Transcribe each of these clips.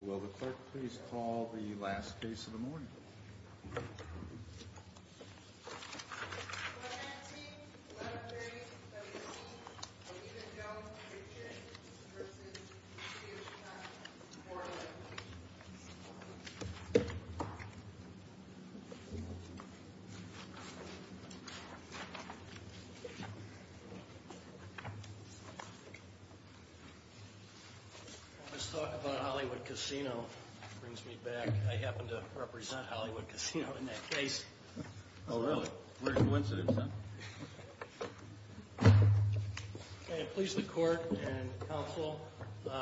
Will the clerk please call the last case of the morning? Will the 19-11-30-17, Anita Jones v. J. v. Steve Cunningham, 4-11-18 This talk about Hollywood Casino brings me back. I happen to represent Hollywood Casino in that case. Oh, really? What a coincidence, huh? May it please the Court and Counsel,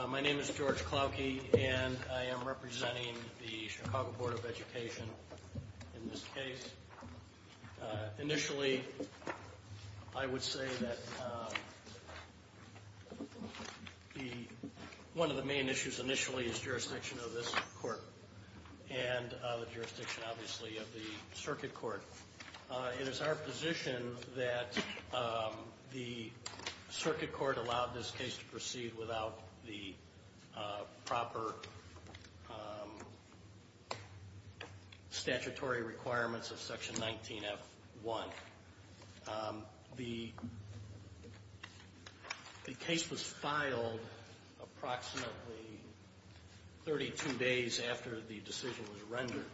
my name is George Klauke, and I am representing the Chicago Board of Education in this case. Initially, I would say that one of the main issues initially is jurisdiction of this court and the jurisdiction, obviously, of the circuit court. It is our position that the circuit court allowed this case to proceed without the proper statutory requirements of Section 19F1. The case was filed approximately 32 days after the decision was rendered.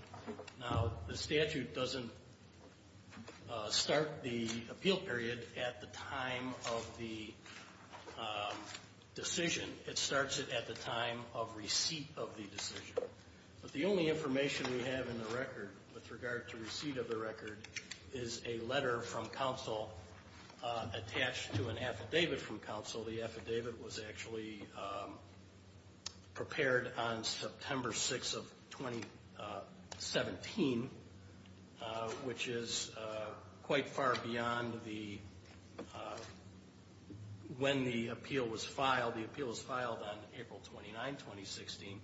Now, the statute doesn't start the appeal period at the time of the decision. It starts it at the time of receipt of the decision. But the only information we have in the record with regard to receipt of the record is a letter from counsel attached to an affidavit from counsel. The affidavit was actually prepared on September 6 of 2017, which is quite far beyond when the appeal was filed. The appeal was filed on April 29, 2016,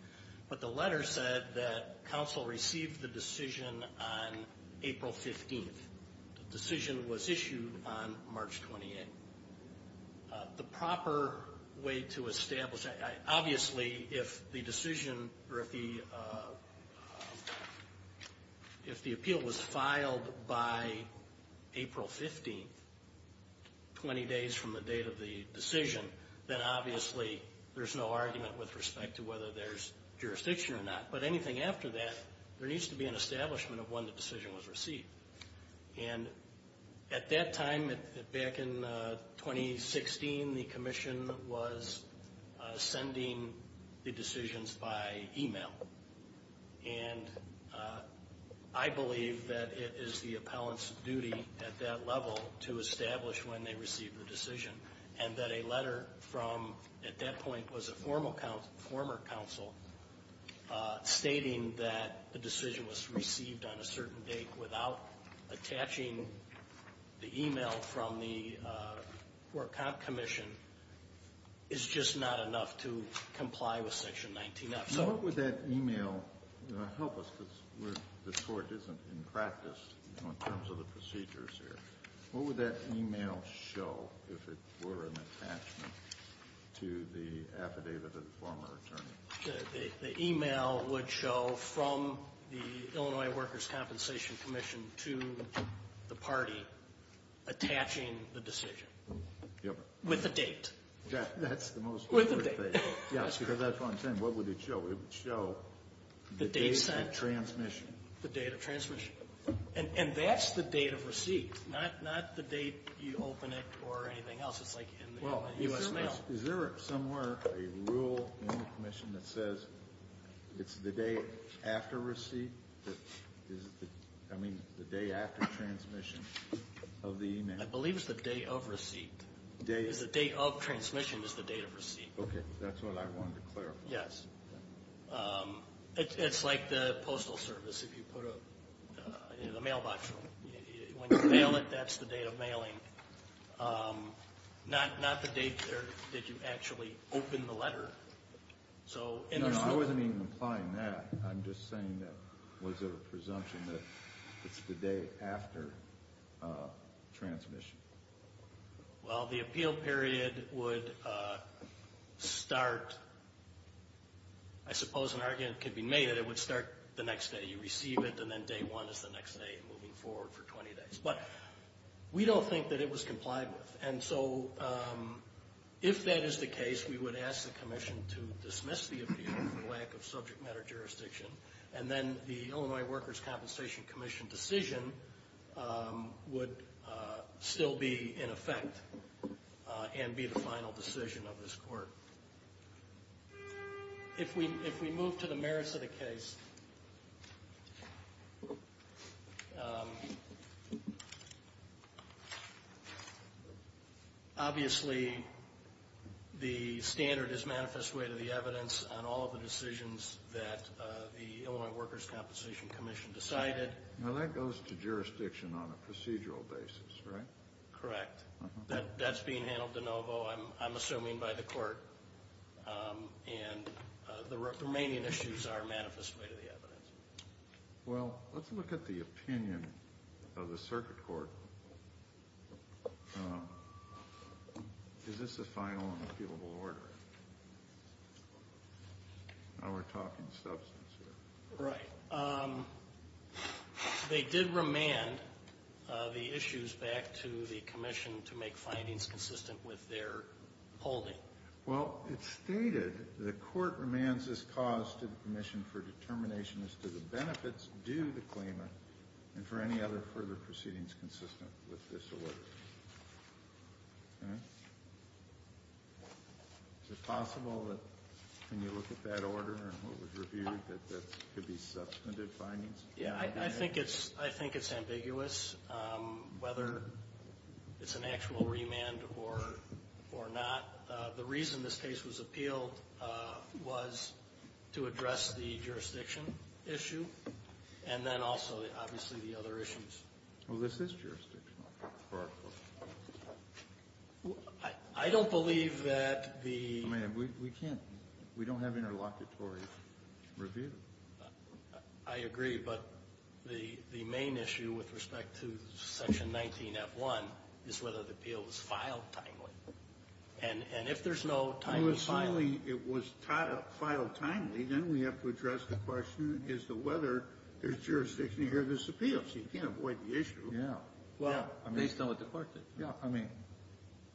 but the letter said that counsel received the decision on April 15. The decision was issued on March 28. Obviously, if the appeal was filed by April 15, 20 days from the date of the decision, then obviously there's no argument with respect to whether there's jurisdiction or not. But anything after that, there needs to be an establishment of when the decision was received. At that time, back in 2016, the commission was sending the decisions by email. I believe that it is the appellant's duty at that level to establish when they receive the decision. And that a letter from, at that point, was a former counsel stating that the decision was received on a certain date without attaching the email from the court commission is just not enough to comply with Section 19-F. Now, what would that email help us, because the court isn't in practice in terms of the procedures here. What would that email show if it were an attachment to the affidavit of the former attorney? The email would show from the Illinois Workers' Compensation Commission to the party attaching the decision. Yep. With a date. That's the most important thing. With a date. Yes, because that's what I'm saying. What would it show? It would show the date of transmission. The date of transmission. And that's the date of receipt, not the date you open it or anything else. It's like in the U.S. mail. Is there somewhere a rule in the commission that says it's the day after receipt? I mean, the day after transmission of the email. I believe it's the day of receipt. The date of transmission is the date of receipt. Okay. That's what I wanted to clarify. Yes. It's like the postal service if you put a mailbox. When you mail it, that's the date of mailing, not the date that you actually open the letter. No, I wasn't even implying that. I'm just saying that was it a presumption that it's the day after transmission? Well, the appeal period would start, I suppose an argument could be made that it would start the next day you receive it and then day one is the next day moving forward for 20 days. But we don't think that it was complied with. And so if that is the case, we would ask the commission to dismiss the appeal for lack of subject matter jurisdiction. And then the Illinois Workers' Compensation Commission decision would still be in effect and be the final decision of this court. If we move to the merits of the case, obviously the standard is manifest way to the evidence on all of the decisions that the Illinois Workers' Compensation Commission decided. Now that goes to jurisdiction on a procedural basis, right? Correct. That's being handled de novo, I'm assuming, by the court. And the remaining issues are manifest way to the evidence. Well, let's look at the opinion of the circuit court. Is this a final and appealable order? Now we're talking substance here. Right. They did remand the issues back to the commission to make findings consistent with their holding. Well, it's stated the court remands this cause to the commission for determination as to the benefits due to the claimant and for any other further proceedings consistent with this order. Is it possible that when you look at that order and what was reviewed, that that could be substantive findings? Yeah, I think it's ambiguous whether it's an actual remand or not. The reason this case was appealed was to address the jurisdiction issue and then also, obviously, the other issues. Well, this is jurisdictional for our court. I don't believe that the – I mean, we can't – we don't have interlocutory review. I agree, but the main issue with respect to Section 19F1 is whether the appeal was filed timely. And if there's no timely filing – If it was filed timely, then we have to address the question as to whether there's jurisdiction to hear this appeal. So you can't avoid the issue. Yeah. Based on what the court did. Yeah. I mean,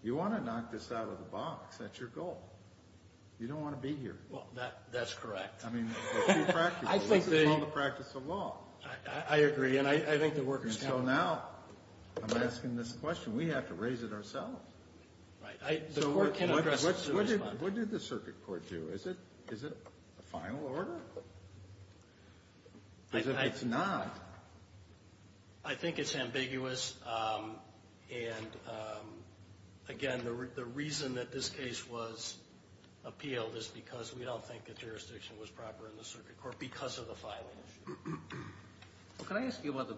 you want to knock this out of the box. That's your goal. You don't want to be here. Well, that's correct. I mean, if you practice it. This is called the practice of law. I agree, and I think the workers – So now I'm asking this question. We have to raise it ourselves. Right. The court can address it. What did the circuit court do? Is it a final order? As if it's not. I think it's ambiguous. And, again, the reason that this case was appealed is because we don't think the jurisdiction was proper in the circuit court because of the filing issue. Well, can I ask you about the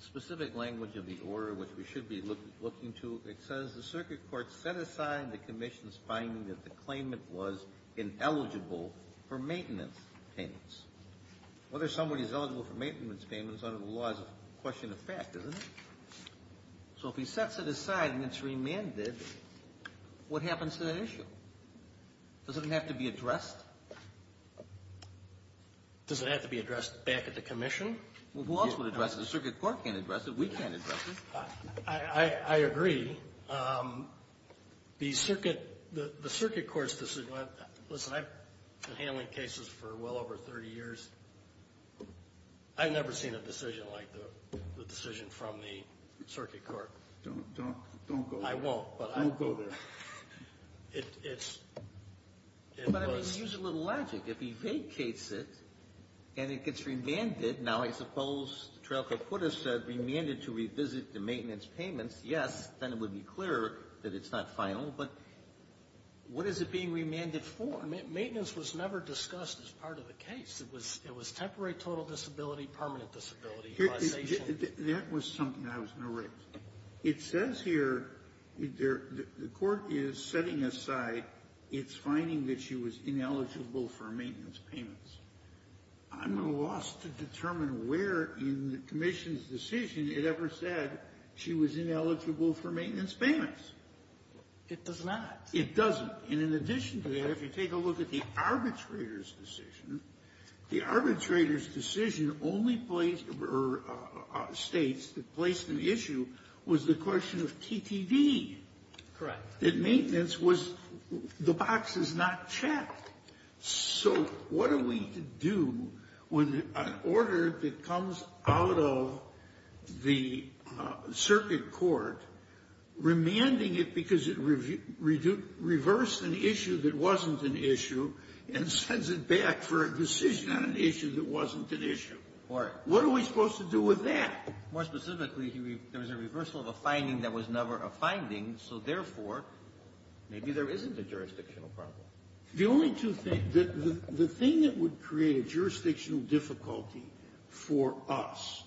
specific language of the order which we should be looking to? It says the circuit court set aside the commission's finding that the claimant was ineligible for maintenance payments. Whether somebody's eligible for maintenance payments under the law is a question of fact, isn't it? So if he sets it aside and it's remanded, what happens to that issue? Does it have to be addressed? Does it have to be addressed back at the commission? Well, who else would address it? The circuit court can't address it. We can't address it. I agree. The circuit court's – listen, I've been handling cases for well over 30 years. I've never seen a decision like the decision from the circuit court. I won't, but I – Don't go there. It's – it was – But I mean, use a little logic. If he vacates it and it gets remanded, now I suppose the trial court could have said remanded to revisit the maintenance payments, yes, then it would be clear that it's not final, but what is it being remanded for? Maintenance was never discussed as part of the case. It was temporary total disability, permanent disability. That was something I was going to raise. It says here – the court is setting aside its finding that she was ineligible for maintenance payments. I'm at a loss to determine where in the commission's decision it ever said she was ineligible for maintenance payments. It does not. It doesn't. And in addition to that, if you take a look at the arbitrator's decision, the arbitrator's decision only placed – or states that placed an issue was the question of TTD. Correct. That maintenance was – the box is not checked. So what are we to do when an order that comes out of the circuit court, remanding it because it reversed an issue that wasn't an issue and sends it back for a decision on an issue that wasn't an issue? What are we supposed to do with that? More specifically, there was a reversal of a finding that was never a finding, so therefore, maybe there isn't a jurisdictional problem. The only two things – the thing that would create a jurisdictional difficulty for us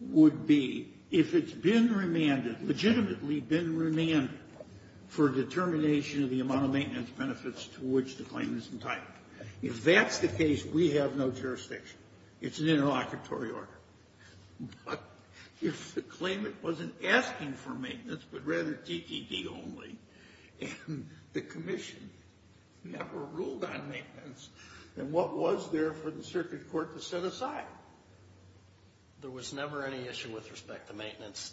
would be if it's been remanded, legitimately been remanded, for determination of the amount of maintenance benefits to which the claim is entitled. If that's the case, we have no jurisdiction. It's an interlocutory order. But if the claimant wasn't asking for maintenance, but rather TTD only, and the commission never ruled on maintenance, then what was there for the circuit court to set aside? There was never any issue with respect to maintenance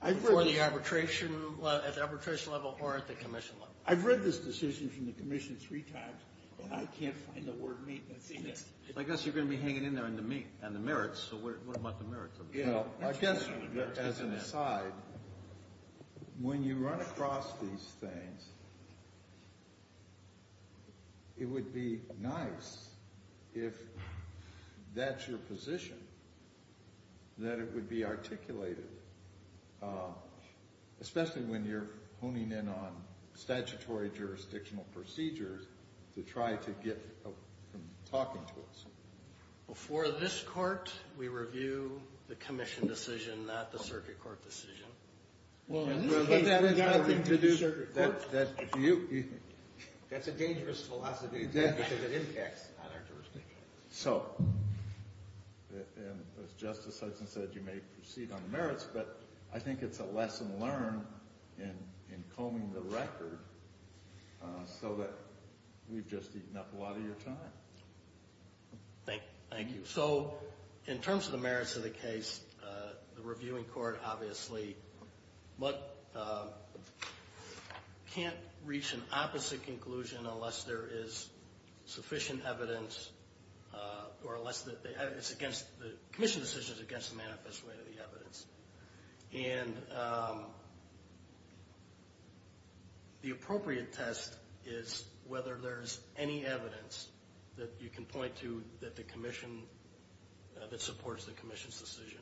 for the arbitration – at the arbitration level or at the commission level. I've read this decision from the commission three times, and I can't find the word maintenance in it. I guess you're going to be hanging in there on the merits, so what about the merits? I guess as an aside, when you run across these things, it would be nice if that's your position, that it would be articulated, especially when you're honing in on statutory jurisdictional procedures to try to get them talking to us. Before this court, we review the commission decision, not the circuit court decision. Well, in this case, we've got to do the circuit court decision. That's a dangerous philosophy, because it impacts on our jurisdiction. So, as Justice Hudson said, you may proceed on the merits, but I think it's a lesson learned in combing the record so that we've just eaten up a lot of your time. Thank you. So in terms of the merits of the case, the reviewing court obviously can't reach an opposite conclusion unless there is sufficient evidence, or unless the commission decision is against the manifest way of the evidence. And the appropriate test is whether there's any evidence that you can point to that supports the commission's decision.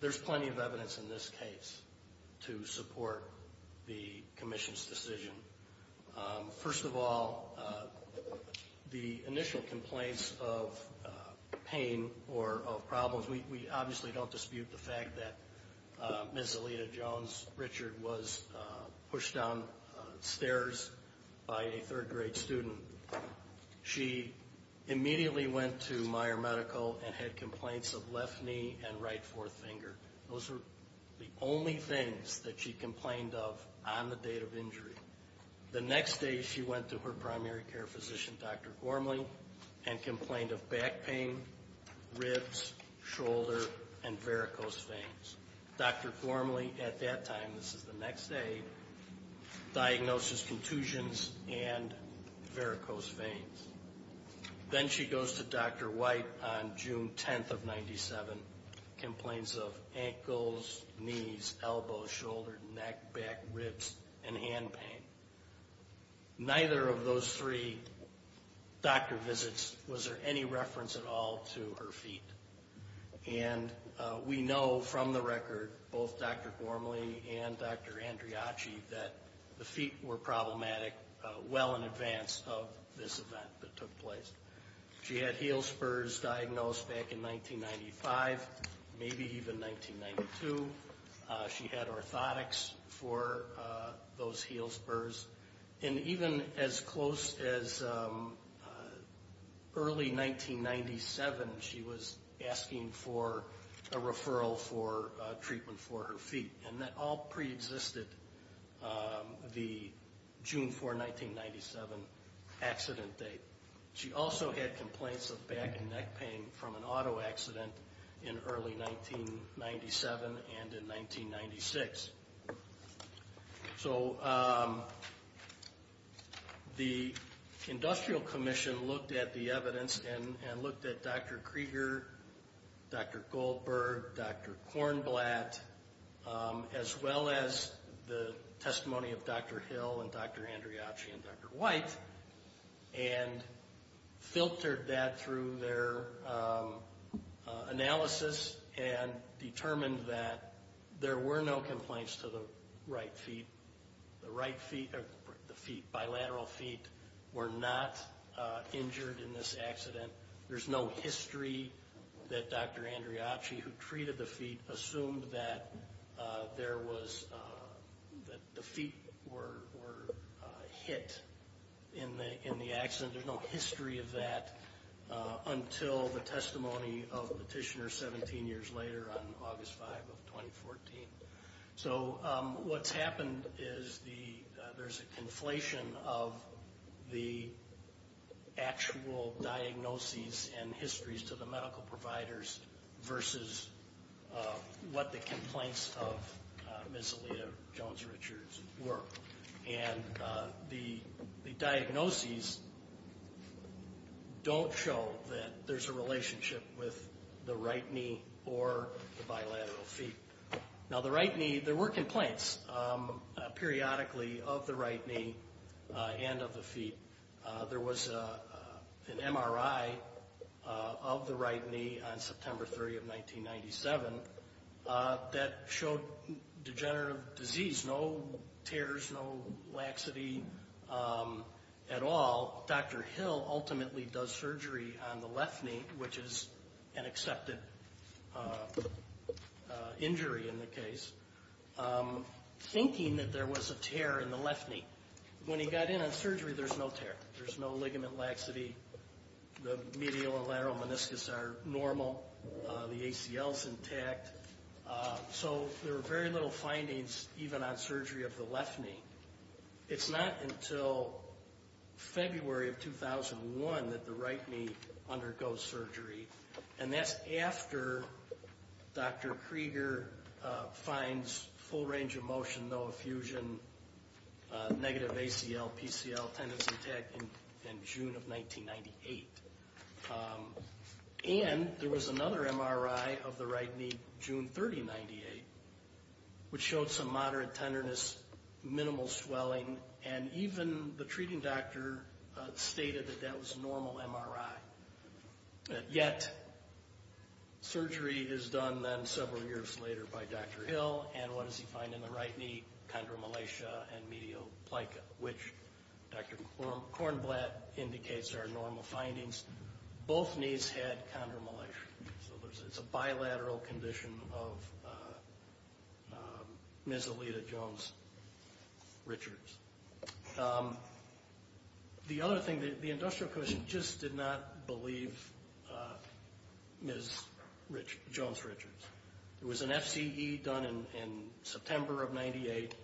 There's plenty of evidence in this case to support the commission's decision. First of all, the initial complaints of pain or of problems, we obviously don't dispute the fact that Ms. Alita Jones Richard was pushed down stairs by a third grade student. She immediately went to Meyer Medical and had complaints of left knee and right fourth finger. Those were the only things that she complained of on the date of injury. The next day, she went to her primary care physician, Dr. Gormley, and complained of back pain, ribs, shoulder, and varicose veins. Dr. Gormley, at that time, this is the next day, diagnosed as contusions and varicose veins. Then she goes to Dr. White on June 10th of 97, complains of ankles, knees, elbows, shoulder, neck, back, ribs, and hand pain. Neither of those three doctor visits was there any reference at all to her feet. We know from the record, both Dr. Gormley and Dr. Andriachi, that the feet were problematic well in advance of this event that took place. She had heel spurs diagnosed back in 1995, maybe even 1992. She had orthotics for those heel spurs. Even as close as early 1997, she was asking for a referral for treatment for her feet. That all preexisted the June 4, 1997 accident date. She also had complaints of back and neck pain from an auto accident in early 1997 and in 1996. The Industrial Commission looked at the evidence and looked at Dr. Krieger, Dr. Goldberg, Dr. Kornblatt, as well as the testimony of Dr. Hill and Dr. Andriachi and Dr. White, and filtered that through their analysis and determined that there were no complaints to the right feet. The right feet, the feet, bilateral feet were not injured in this accident. There's no history that Dr. Andriachi, who treated the feet, assumed that there was, that the feet were hit in the accident. There's no history of that until the testimony of the petitioner 17 years later on August 5 of 2014. What's happened is there's a conflation of the actual diagnoses and histories to the medical providers versus what the complaints of Ms. Alita Jones Richards were. The diagnoses don't show that there's a relationship with the right knee or the bilateral feet. Now, the right knee, there were complaints periodically of the right knee and of the feet. There was an MRI of the right knee on September 3 of 1997 that showed degenerative disease, no tears, no laxity at all. Dr. Hill ultimately does surgery on the left knee, which is an accepted injury in the case, thinking that there was a tear in the left knee. When he got in on surgery, there's no tear. There's no ligament laxity. The medial and lateral meniscus are normal. The ACL's intact. So there were very little findings even on surgery of the left knee. It's not until February of 2001 that the right knee undergoes surgery, and that's after Dr. Krieger finds full range of motion, no effusion, negative ACL, PCL, tendons intact in June of 1998. And there was another MRI of the right knee June 30, 1998, which showed some moderate tenderness, minimal swelling, and even the treating doctor stated that that was a normal MRI. Yet surgery is done then several years later by Dr. Hill, and what does he find in the right knee? Chondromalacia and medial plica, which Dr. Kornblatt indicates are normal findings. Both knees had chondromalacia, so it's a bilateral condition of Ms. Aleta Jones Richards. The other thing, the industrial clinician just did not believe Ms. Jones Richards. There was an FCE done in September of 1998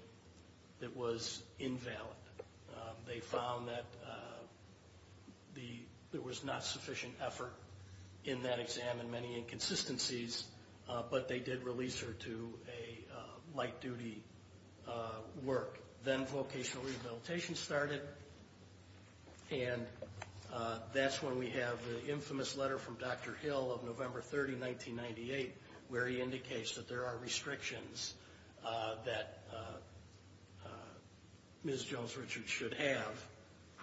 that was invalid. They found that there was not sufficient effort in that exam and many inconsistencies, but they did release her to a light-duty work. Then vocational rehabilitation started, and that's when we have the infamous letter from Dr. Hill of November 30, 1998, where he indicates that there are restrictions that Ms. Jones Richards should have,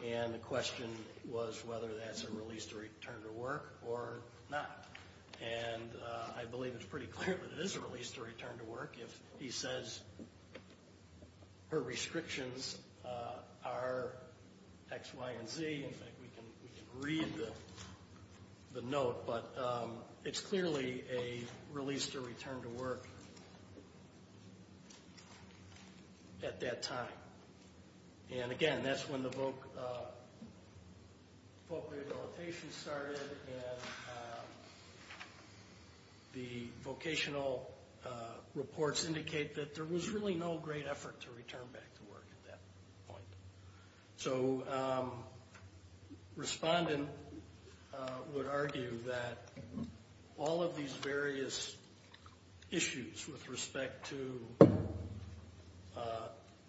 and the question was whether that's a release to return to work or not. I believe it's pretty clear that it is a release to return to work if he says her restrictions are X, Y, and Z. In fact, we can read the note, but it's clearly a release to return to work at that time. Again, that's when the vocational rehabilitation started, and the vocational reports indicate that there was really no great effort to return back to work at that point. Respondent would argue that all of these various issues with respect to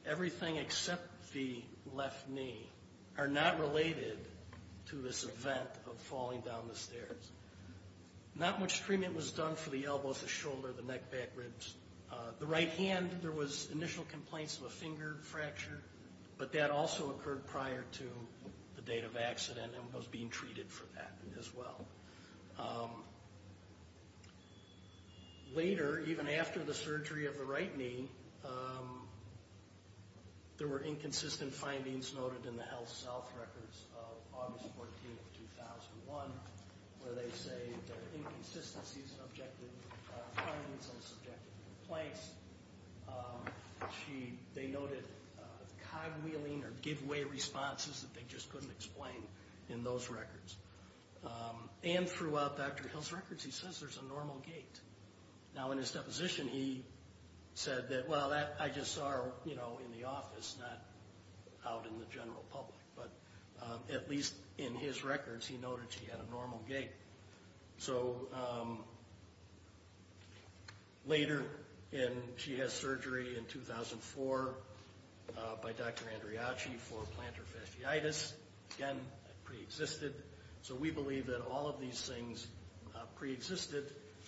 everything except the left knee are not related to this event of falling down the stairs. Not much treatment was done for the elbows, the shoulder, the neck, back ribs. The right hand, there was initial complaints of a finger fracture, but that also occurred prior to the date of accident and was being treated for that as well. Later, even after the surgery of the right knee, there were inconsistent findings noted in the HealthSouth records of August 14, 2001, where they say there are inconsistencies in objective findings and subjective complaints. They noted cogwheeling or give-way responses that they just couldn't explain in those records. And throughout Dr. Hill's records, he says there's a normal gait. Now, in his deposition, he said that, well, I just saw her in the office, not out in the general public. But at least in his records, he noted she had a normal gait. So later, she had surgery in 2004 by Dr. Andriachi for plantar fasciitis. Again, that preexisted. So we believe that all of these things preexisted.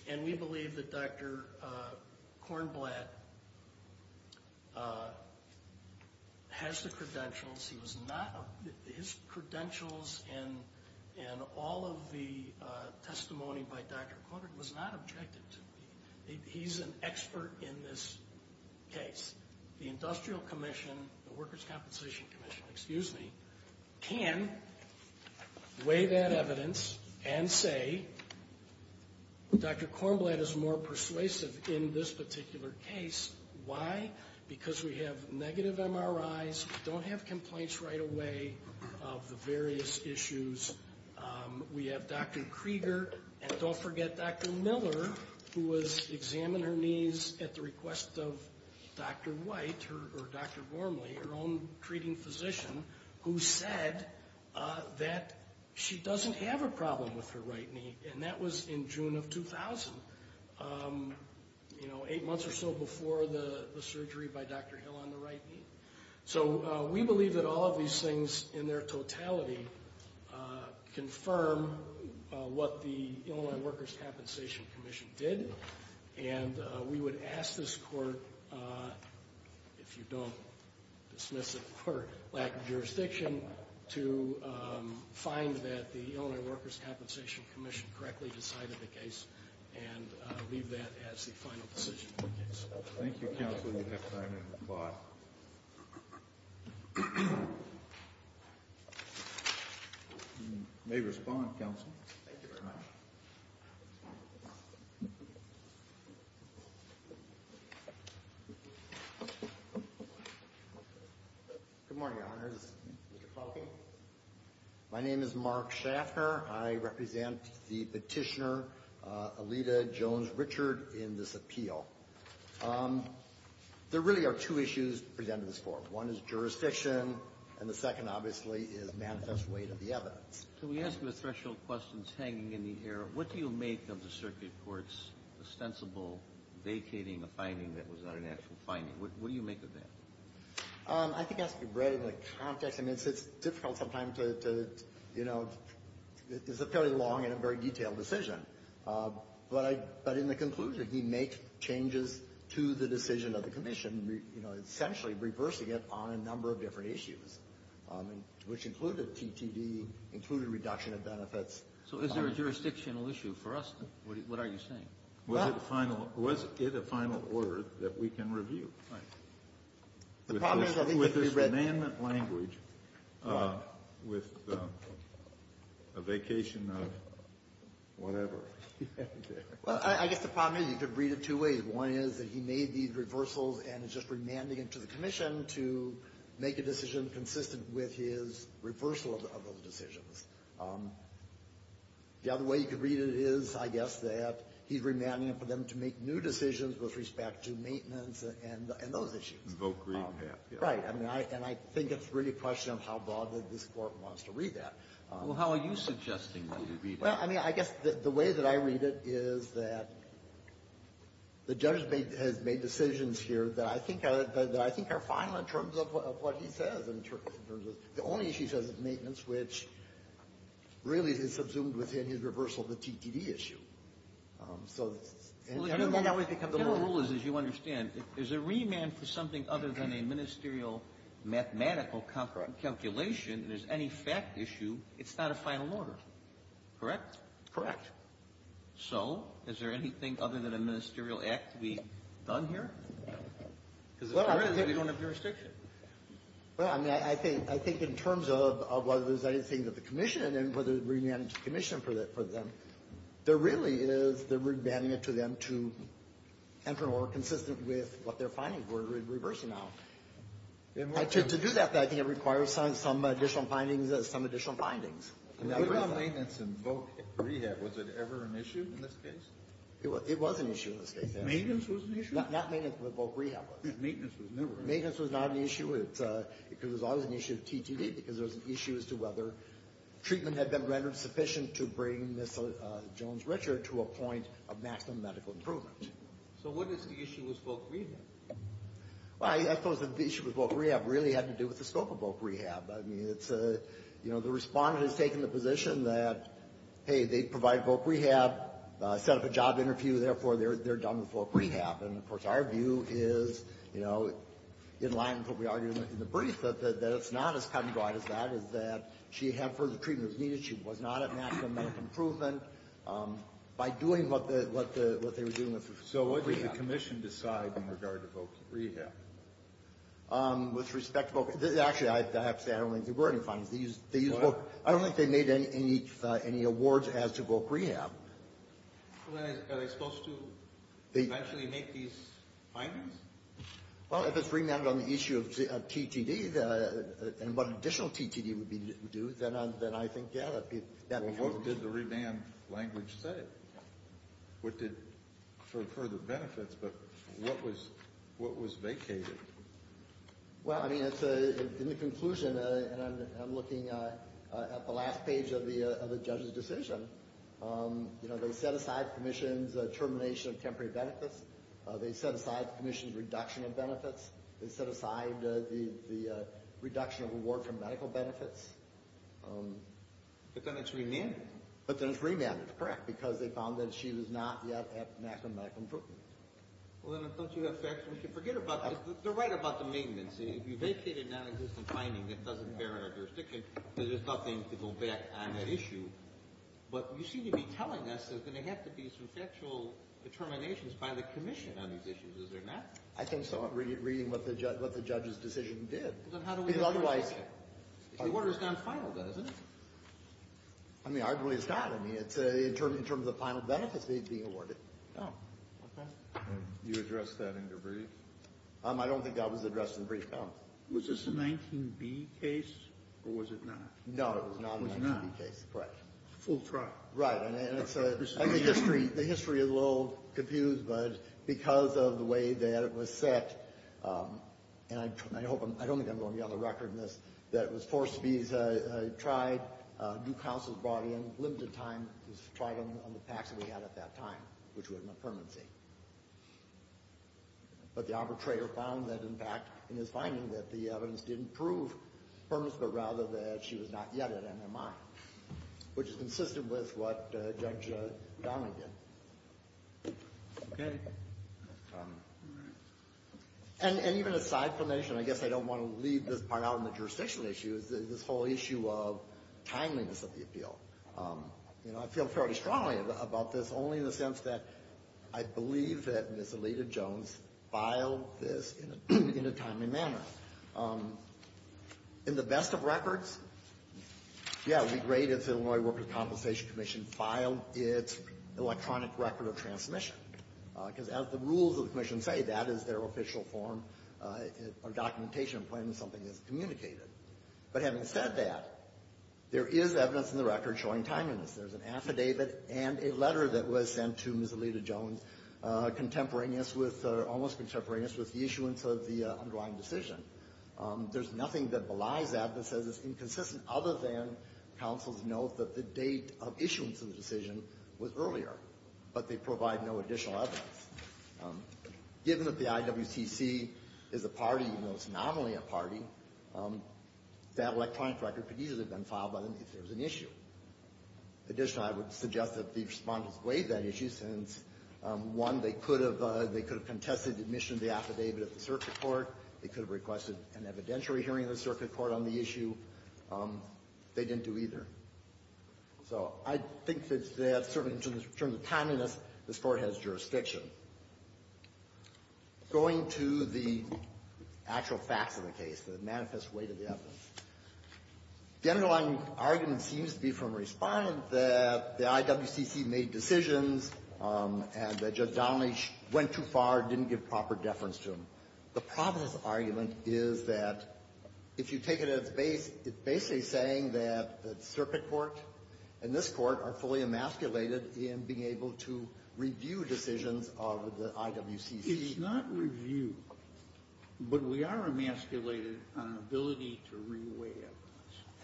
And we believe that Dr. Kornblatt has the credentials. His credentials and all of the testimony by Dr. Kornblatt was not objective to me. He's an expert in this case. The Industrial Commission, the Workers' Compensation Commission, excuse me, can weigh that evidence and say Dr. Kornblatt is more persuasive in this particular case. Why? Because we have negative MRIs, don't have complaints right away of the various issues. We have Dr. Krieger. And don't forget Dr. Miller, who was examined her knees at the request of Dr. White or Dr. Gormley, her own treating physician, who said that she doesn't have a problem with her right knee. And that was in June of 2000. Eight months or so before the surgery by Dr. Hill on the right knee. So we believe that all of these things in their totality confirm what the Illinois Workers' Compensation Commission did. And we would ask this court, if you don't dismiss it for lack of jurisdiction, to find that the Illinois Workers' Compensation Commission correctly decided the case and leave that as the final decision for the case. Thank you, counsel. You have time to reply. You may respond, counsel. Thank you very much. Good morning, Your Honors. Mr. Kahlke. My name is Mark Schaffner. I represent the Petitioner Alita Jones-Richard in this appeal. There really are two issues presented in this court. One is jurisdiction, and the second, obviously, is manifest weight of the evidence. Can we ask you a threshold question that's hanging in the air? What do you make of the circuit court's ostensible vacating a finding that was not an actual finding? What do you make of that? I think it has to be read in the context. I mean, it's difficult sometimes to, you know, it's a fairly long and a very detailed decision. But in the conclusion, he makes changes to the decision of the commission, you know, essentially reversing it on a number of different issues, which included TTD, included reduction of benefits. So is there a jurisdictional issue for us? What are you saying? Was it final? Was it a final order that we can review? Right. The problem is I think it could be read. With this demand language, with a vacation of whatever. Well, I guess the problem is you could read it two ways. One is that he made these reversals and is just remanding it to the commission to make a decision consistent with his reversal of those decisions. The other way you could read it is, I guess, that he's remanding it for them to make new decisions with respect to maintenance and those issues. Right. And I think it's really a question of how broadly this Court wants to read that. Well, how are you suggesting that you read it? Well, I mean, I guess the way that I read it is that the judge has made decisions here that I think are final in terms of what he says, in terms of the only issue he says is maintenance, which really is subsumed within his reversal of the TTD issue. So the general rule is, as you understand, if there's a remand for something other than a ministerial mathematical calculation and there's any fact issue, it's not a final order. Correct? Correct. So, is there anything other than a ministerial act to be done here? Because if there is, we don't have jurisdiction. Well, I mean, I think in terms of whether there's anything that the commission and whether it's remanded to the commission for them, there really is the remanding it to them to enter an order consistent with what they're finding for a reverse amount. To do that, I think it requires some additional findings. Now, what about maintenance and voc rehab? Was it ever an issue in this case? It was an issue in this case. Maintenance was an issue? Not maintenance, but voc rehab was. Maintenance was never an issue. Maintenance was not an issue because it was always an issue of TTD because there was an issue as to whether treatment had been rendered sufficient to bring Ms. Jones-Richard to a point of maximum medical improvement. So what is the issue with voc rehab? Well, I suppose the issue with voc rehab really had to do with the scope of voc rehab. I mean, it's a, you know, the respondent has taken the position that, hey, they provide voc rehab, set up a job interview, therefore they're done with voc rehab. And, of course, our view is, you know, in line with what we argued in the brief, that it's not as cutting-edge as that, is that she had further treatments needed, she was not at maximum medical improvement. By doing what they were doing with voc rehab. So what did the commission decide in regard to voc rehab? With respect to voc rehab. Actually, I have to say, I don't think there were any findings. They used voc. What? I don't think they made any awards as to voc rehab. Well, then, are they supposed to eventually make these findings? Well, if it's remanded on the issue of TTD and what additional TTD would be due, then I think, yeah, that would be helpful. Well, what did the remand language say? What did further benefits, but what was vacated? Well, I mean, in the conclusion, and I'm looking at the last page of the judge's decision, you know, they set aside the commission's termination of temporary benefits. They set aside the commission's reduction of benefits. They set aside the reduction of reward for medical benefits. But then it's remanded. But then it's remanded, correct, because they found that she was not yet at maximum medical improvement. Well, then, don't you have facts we should forget about? They're right about the maintenance. If you vacate a non-existent finding that doesn't bear on our jurisdiction, then there's nothing to go back on that issue. But you seem to be telling us there's going to have to be some factual determinations by the commission on these issues. Is there not? I think so. I'm reading what the judge's decision did. Well, then, how do we know? Because otherwise— The order's non-final, though, isn't it? I mean, arguably it's not. I mean, it's in terms of the final benefits being awarded. Oh. Okay. And you addressed that in your brief? I don't think that was addressed in the brief, no. Was this a 19B case, or was it not? No, it was a non-19B case. It was not. Correct. Full trial. Right. And the history is a little confused, but because of the way that it was set, and I don't think I'm going to be on the record in this, that it was forced to be tried, due counsel brought in, limited time was tried on the PACs that we had at that time, which were in a permanency. But the arbitrator found that, in fact, in his finding, that the evidence didn't prove permanence, but rather that she was not yet at MMI, which is consistent with what Judge Donovan did. Okay. And even a side formation, I guess I don't want to leave this part out on the jurisdictional issues, this whole issue of timeliness of the appeal. You know, I feel fairly strongly about this, only in the sense that I believe that Ms. Alita Jones filed this in a timely manner. In the best of records, yeah, we graded the Illinois Workers' Compensation Commission filed its electronic record of transmission, because as the rules of the commission say, that is their official form or documentation of when something is communicated. But having said that, there is evidence in the record showing timeliness. There's an affidavit and a letter that was sent to Ms. Alita Jones contemporaneous with or almost contemporaneous with the issuance of the underlying decision. There's nothing that belies that that says it's inconsistent other than counsel's note that the date of issuance of the decision was earlier, but they provide no additional evidence. Given that the IWCC is a party, even though it's not only a party, that electronic record could easily have been filed by them if there was an issue. Additionally, I would suggest that the respondents waived that issue since, one, they could have contested admission of the affidavit at the circuit court. They could have requested an evidentiary hearing of the circuit court on the issue. They didn't do either. So I think that certainly in terms of timeliness, the Court has jurisdiction. Going to the actual facts of the case, the manifest weight of the evidence, the underlying argument seems to be from a Respondent that the IWCC made decisions and that Judge Donnelly went too far, didn't give proper deference to them. The problem with this argument is that if you take it at its base, it's basically saying that the circuit court and this Court are fully emasculated in being able to review decisions of the IWCC. It's not review, but we are emasculated on ability to re-weigh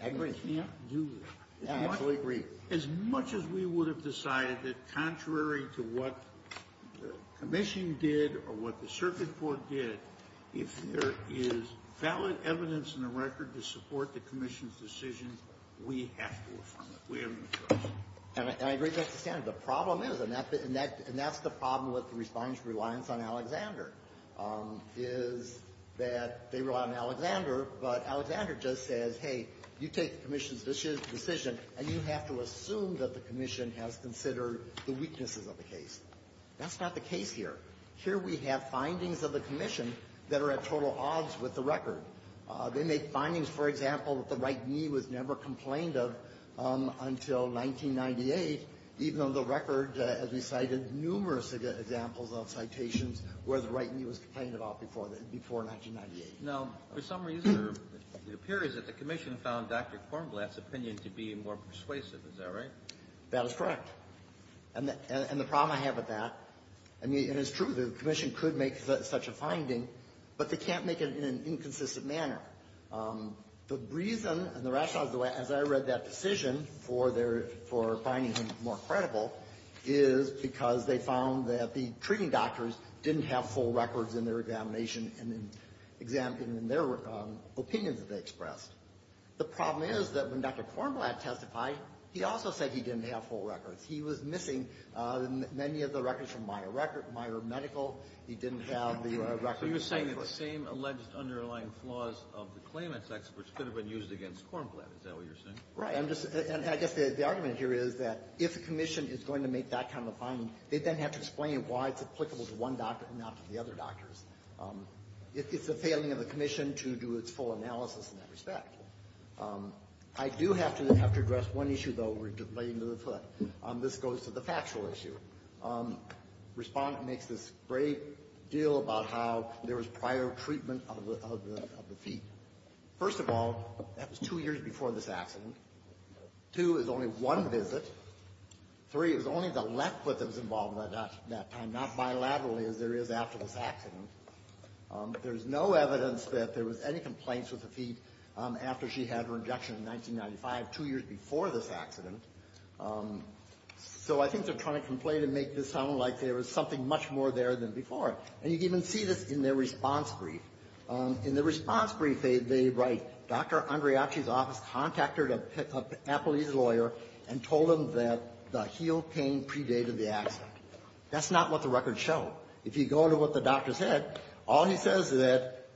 evidence. Agree. We can't do that. I absolutely agree. As much as we would have decided that contrary to what the commission did or what the circuit court did, if there is valid evidence in the record to support the commission's decision, we have to affirm it. We have no choice. And I agree. That's the standard. The problem is, and that's the problem with the Respondent's reliance on Alexander, is that they rely on Alexander, but Alexander just says, hey, you take the commission's decision and you have to assume that the commission has considered the weaknesses of the case. That's not the case here. Here we have findings of the commission that are at total odds with the record. They make findings, for example, that the right knee was never complained of until 1998, even though the record has recited numerous examples of citations where the right knee was complained about before that, before 1998. Now, for some reason, it appears that the commission found Dr. Kornblatt's opinion to be more persuasive. Is that right? That is correct. And the problem I have with that, I mean, and it's true, the commission could make such a finding, but they can't make it in an inconsistent manner. The reason and the rationale, as I read that decision for their, for finding him more credible, is because they found that the treating doctors didn't have full records in their examination and in their opinions that they expressed. The problem is that when Dr. Kornblatt testified, he also said he didn't have full records. He was missing many of the records from Meijer Record, Meijer Medical. He didn't have the records of the claimant's experts. Kennedy. So you're saying that the same alleged underlying flaws of the claimant's experts could have been used against Kornblatt. Is that what you're saying? Right. I'm just going to say, and I guess the argument here is that if a commission is going to make that kind of a finding, they then have to explain why it's applicable to one doctor and not to the other doctors. It's the failing of the commission to do its full analysis in that respect. I do have to address one issue, though, relating to the foot. This goes to the factual issue. Respondent makes this great deal about how there was prior treatment of the feet. First of all, that was two years before this accident. Two is only one visit. Three, it was only the left foot that was involved at that time, not bilaterally as there is after this accident. There's no evidence that there was any complaints with the feet after she had her injection in 1995, two years before this accident. So I think they're trying to complain and make this sound like there was something much more there than before. And you can even see this in their response brief. In the response brief, they write, Dr. Andriachi's office contacted an Appalachian lawyer and told him that the heel pain predated the accident. That's not what the records show. If you go to what the doctor said, all he says is that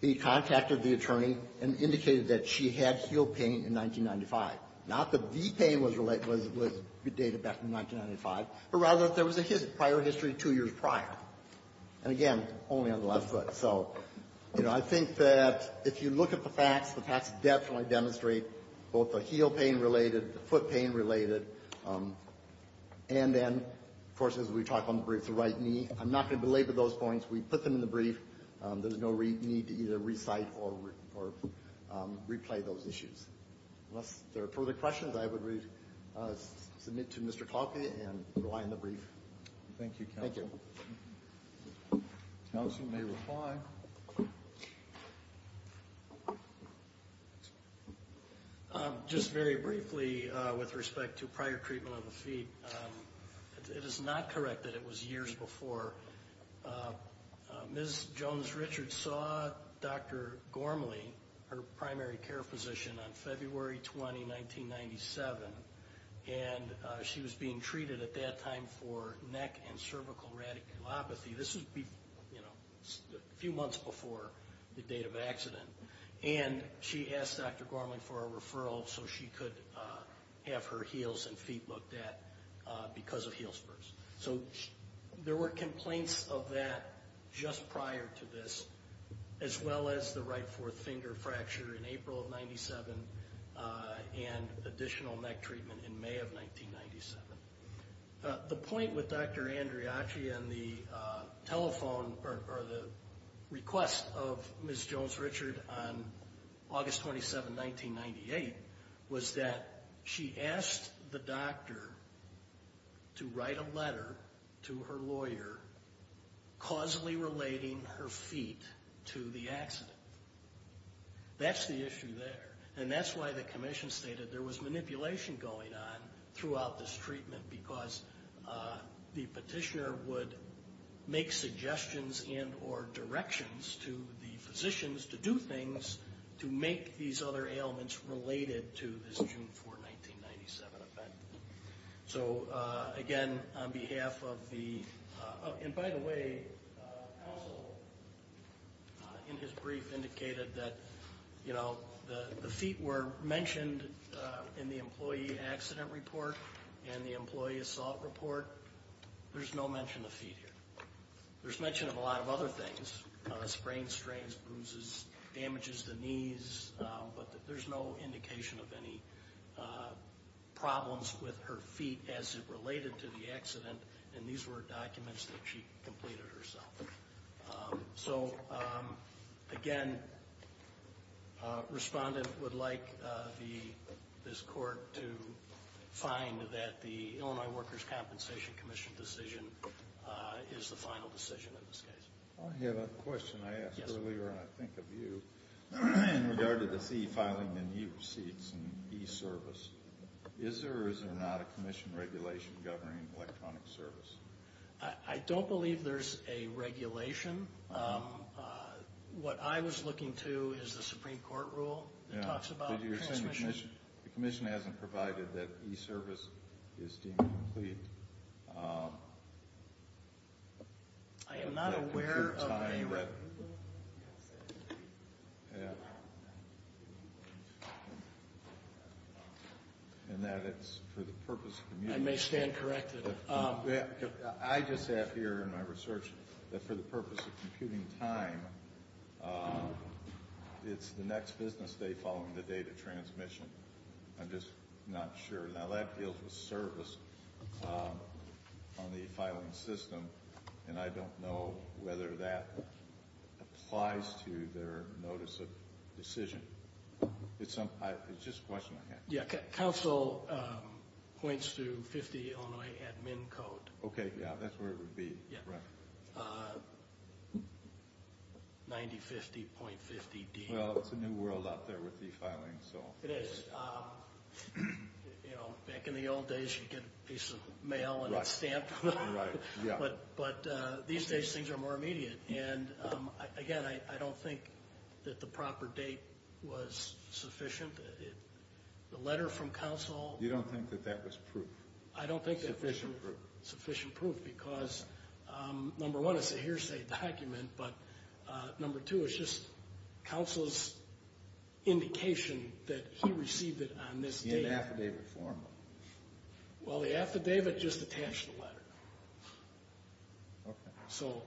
he contacted the attorney and indicated that she had heel pain in 1995. Not that the pain was predated back in 1995, but rather that there was a prior history two years prior, and again, only on the left foot. So I think that if you look at the facts, the facts definitely demonstrate both the heel pain-related, the foot pain-related, and then, of course, as we talk on the brief, the right knee. I'm not going to belabor those points. We put them in the brief. There's no need to either recite or replay those issues. Unless there are further questions, I would submit to Mr. Kloppe and rely on the brief. Thank you, counsel. Thank you. Counsel may reply. Just very briefly with respect to prior treatment of the feet. It is not correct that it was years before. Ms. Jones-Richard saw Dr. Gormley, her primary care physician, on February 20, 1997, and she was being treated at that time for neck and cervical radiculopathy. This was a few months before the date of accident. And she asked Dr. Gormley for a referral so she could have her heels and feet looked at because of heel spurs. So there were complaints of that just prior to this, as well as the right fourth finger fracture in April of 97, and additional neck treatment in May of 1997. The point with Dr. Andriachi and the telephone, or the request of Ms. Andriachi is that she asked the doctor to write a letter to her lawyer causally relating her feet to the accident. That's the issue there. And that's why the commission stated there was manipulation going on throughout this treatment because the petitioner would make suggestions and or directions to the physicians to do things to make these other ailments related to this June 4, 1997 event. So again, on behalf of the, and by the way, counsel in his brief indicated that the feet were mentioned in the employee accident report and the employee assault report. There's no mention of feet here. There's mention of a lot of other things, sprains, strains, bruises, damages to knees, but there's no indication of any problems with her feet as it related to the accident, and these were documents that she completed herself. So again, respondent would like the, this court to find that the Illinois Workers' Compensation Commission decision is the final decision in this case. I have a question I asked earlier, and I think of you, in regard to this e-filing and e-receipts and e-service. Is there or is there not a commission regulation governing electronic service? I don't believe there's a regulation. What I was looking to is the Supreme Court rule that talks about transmission. The commission hasn't provided that e-service is deemed complete. I am not aware of a- And that it's for the purpose of- I may stand corrected. I just have here in my research that for the purpose of computing time, it's the next business day following the date of transmission. I'm just not sure. Now that deals with service on the filing system, and I don't know whether that applies to their notice of decision. It's just a question I had. Yeah, counsel points to 50 Illinois admin code. Okay, yeah, that's where it would be, right. Yeah, 9050.50D. Well, it's a new world out there with e-filing, so. It is. Back in the old days, you'd get a piece of mail and it's stamped. Right, yeah. But these days, things are more immediate. And again, I don't think that the proper date was sufficient. The letter from counsel- You don't think that that was proof? I don't think that was- Sufficient proof. Sufficient proof, because number one, it's a hearsay document, but number two, it's just counsel's indication that he received it on this date. In affidavit form. Well, the affidavit just attached the letter. So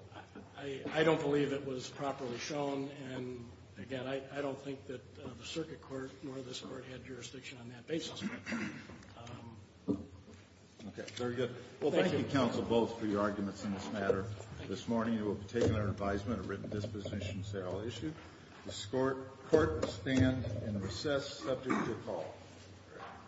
I don't believe it was properly shown, and again, I don't think that the circuit court nor this court had jurisdiction on that basis. Okay, very good. Well, thank you, counsel, both, for your arguments in this matter. This morning, we'll be taking our advisement of written dispositions that I'll issue. The court will stand and recess subject to call.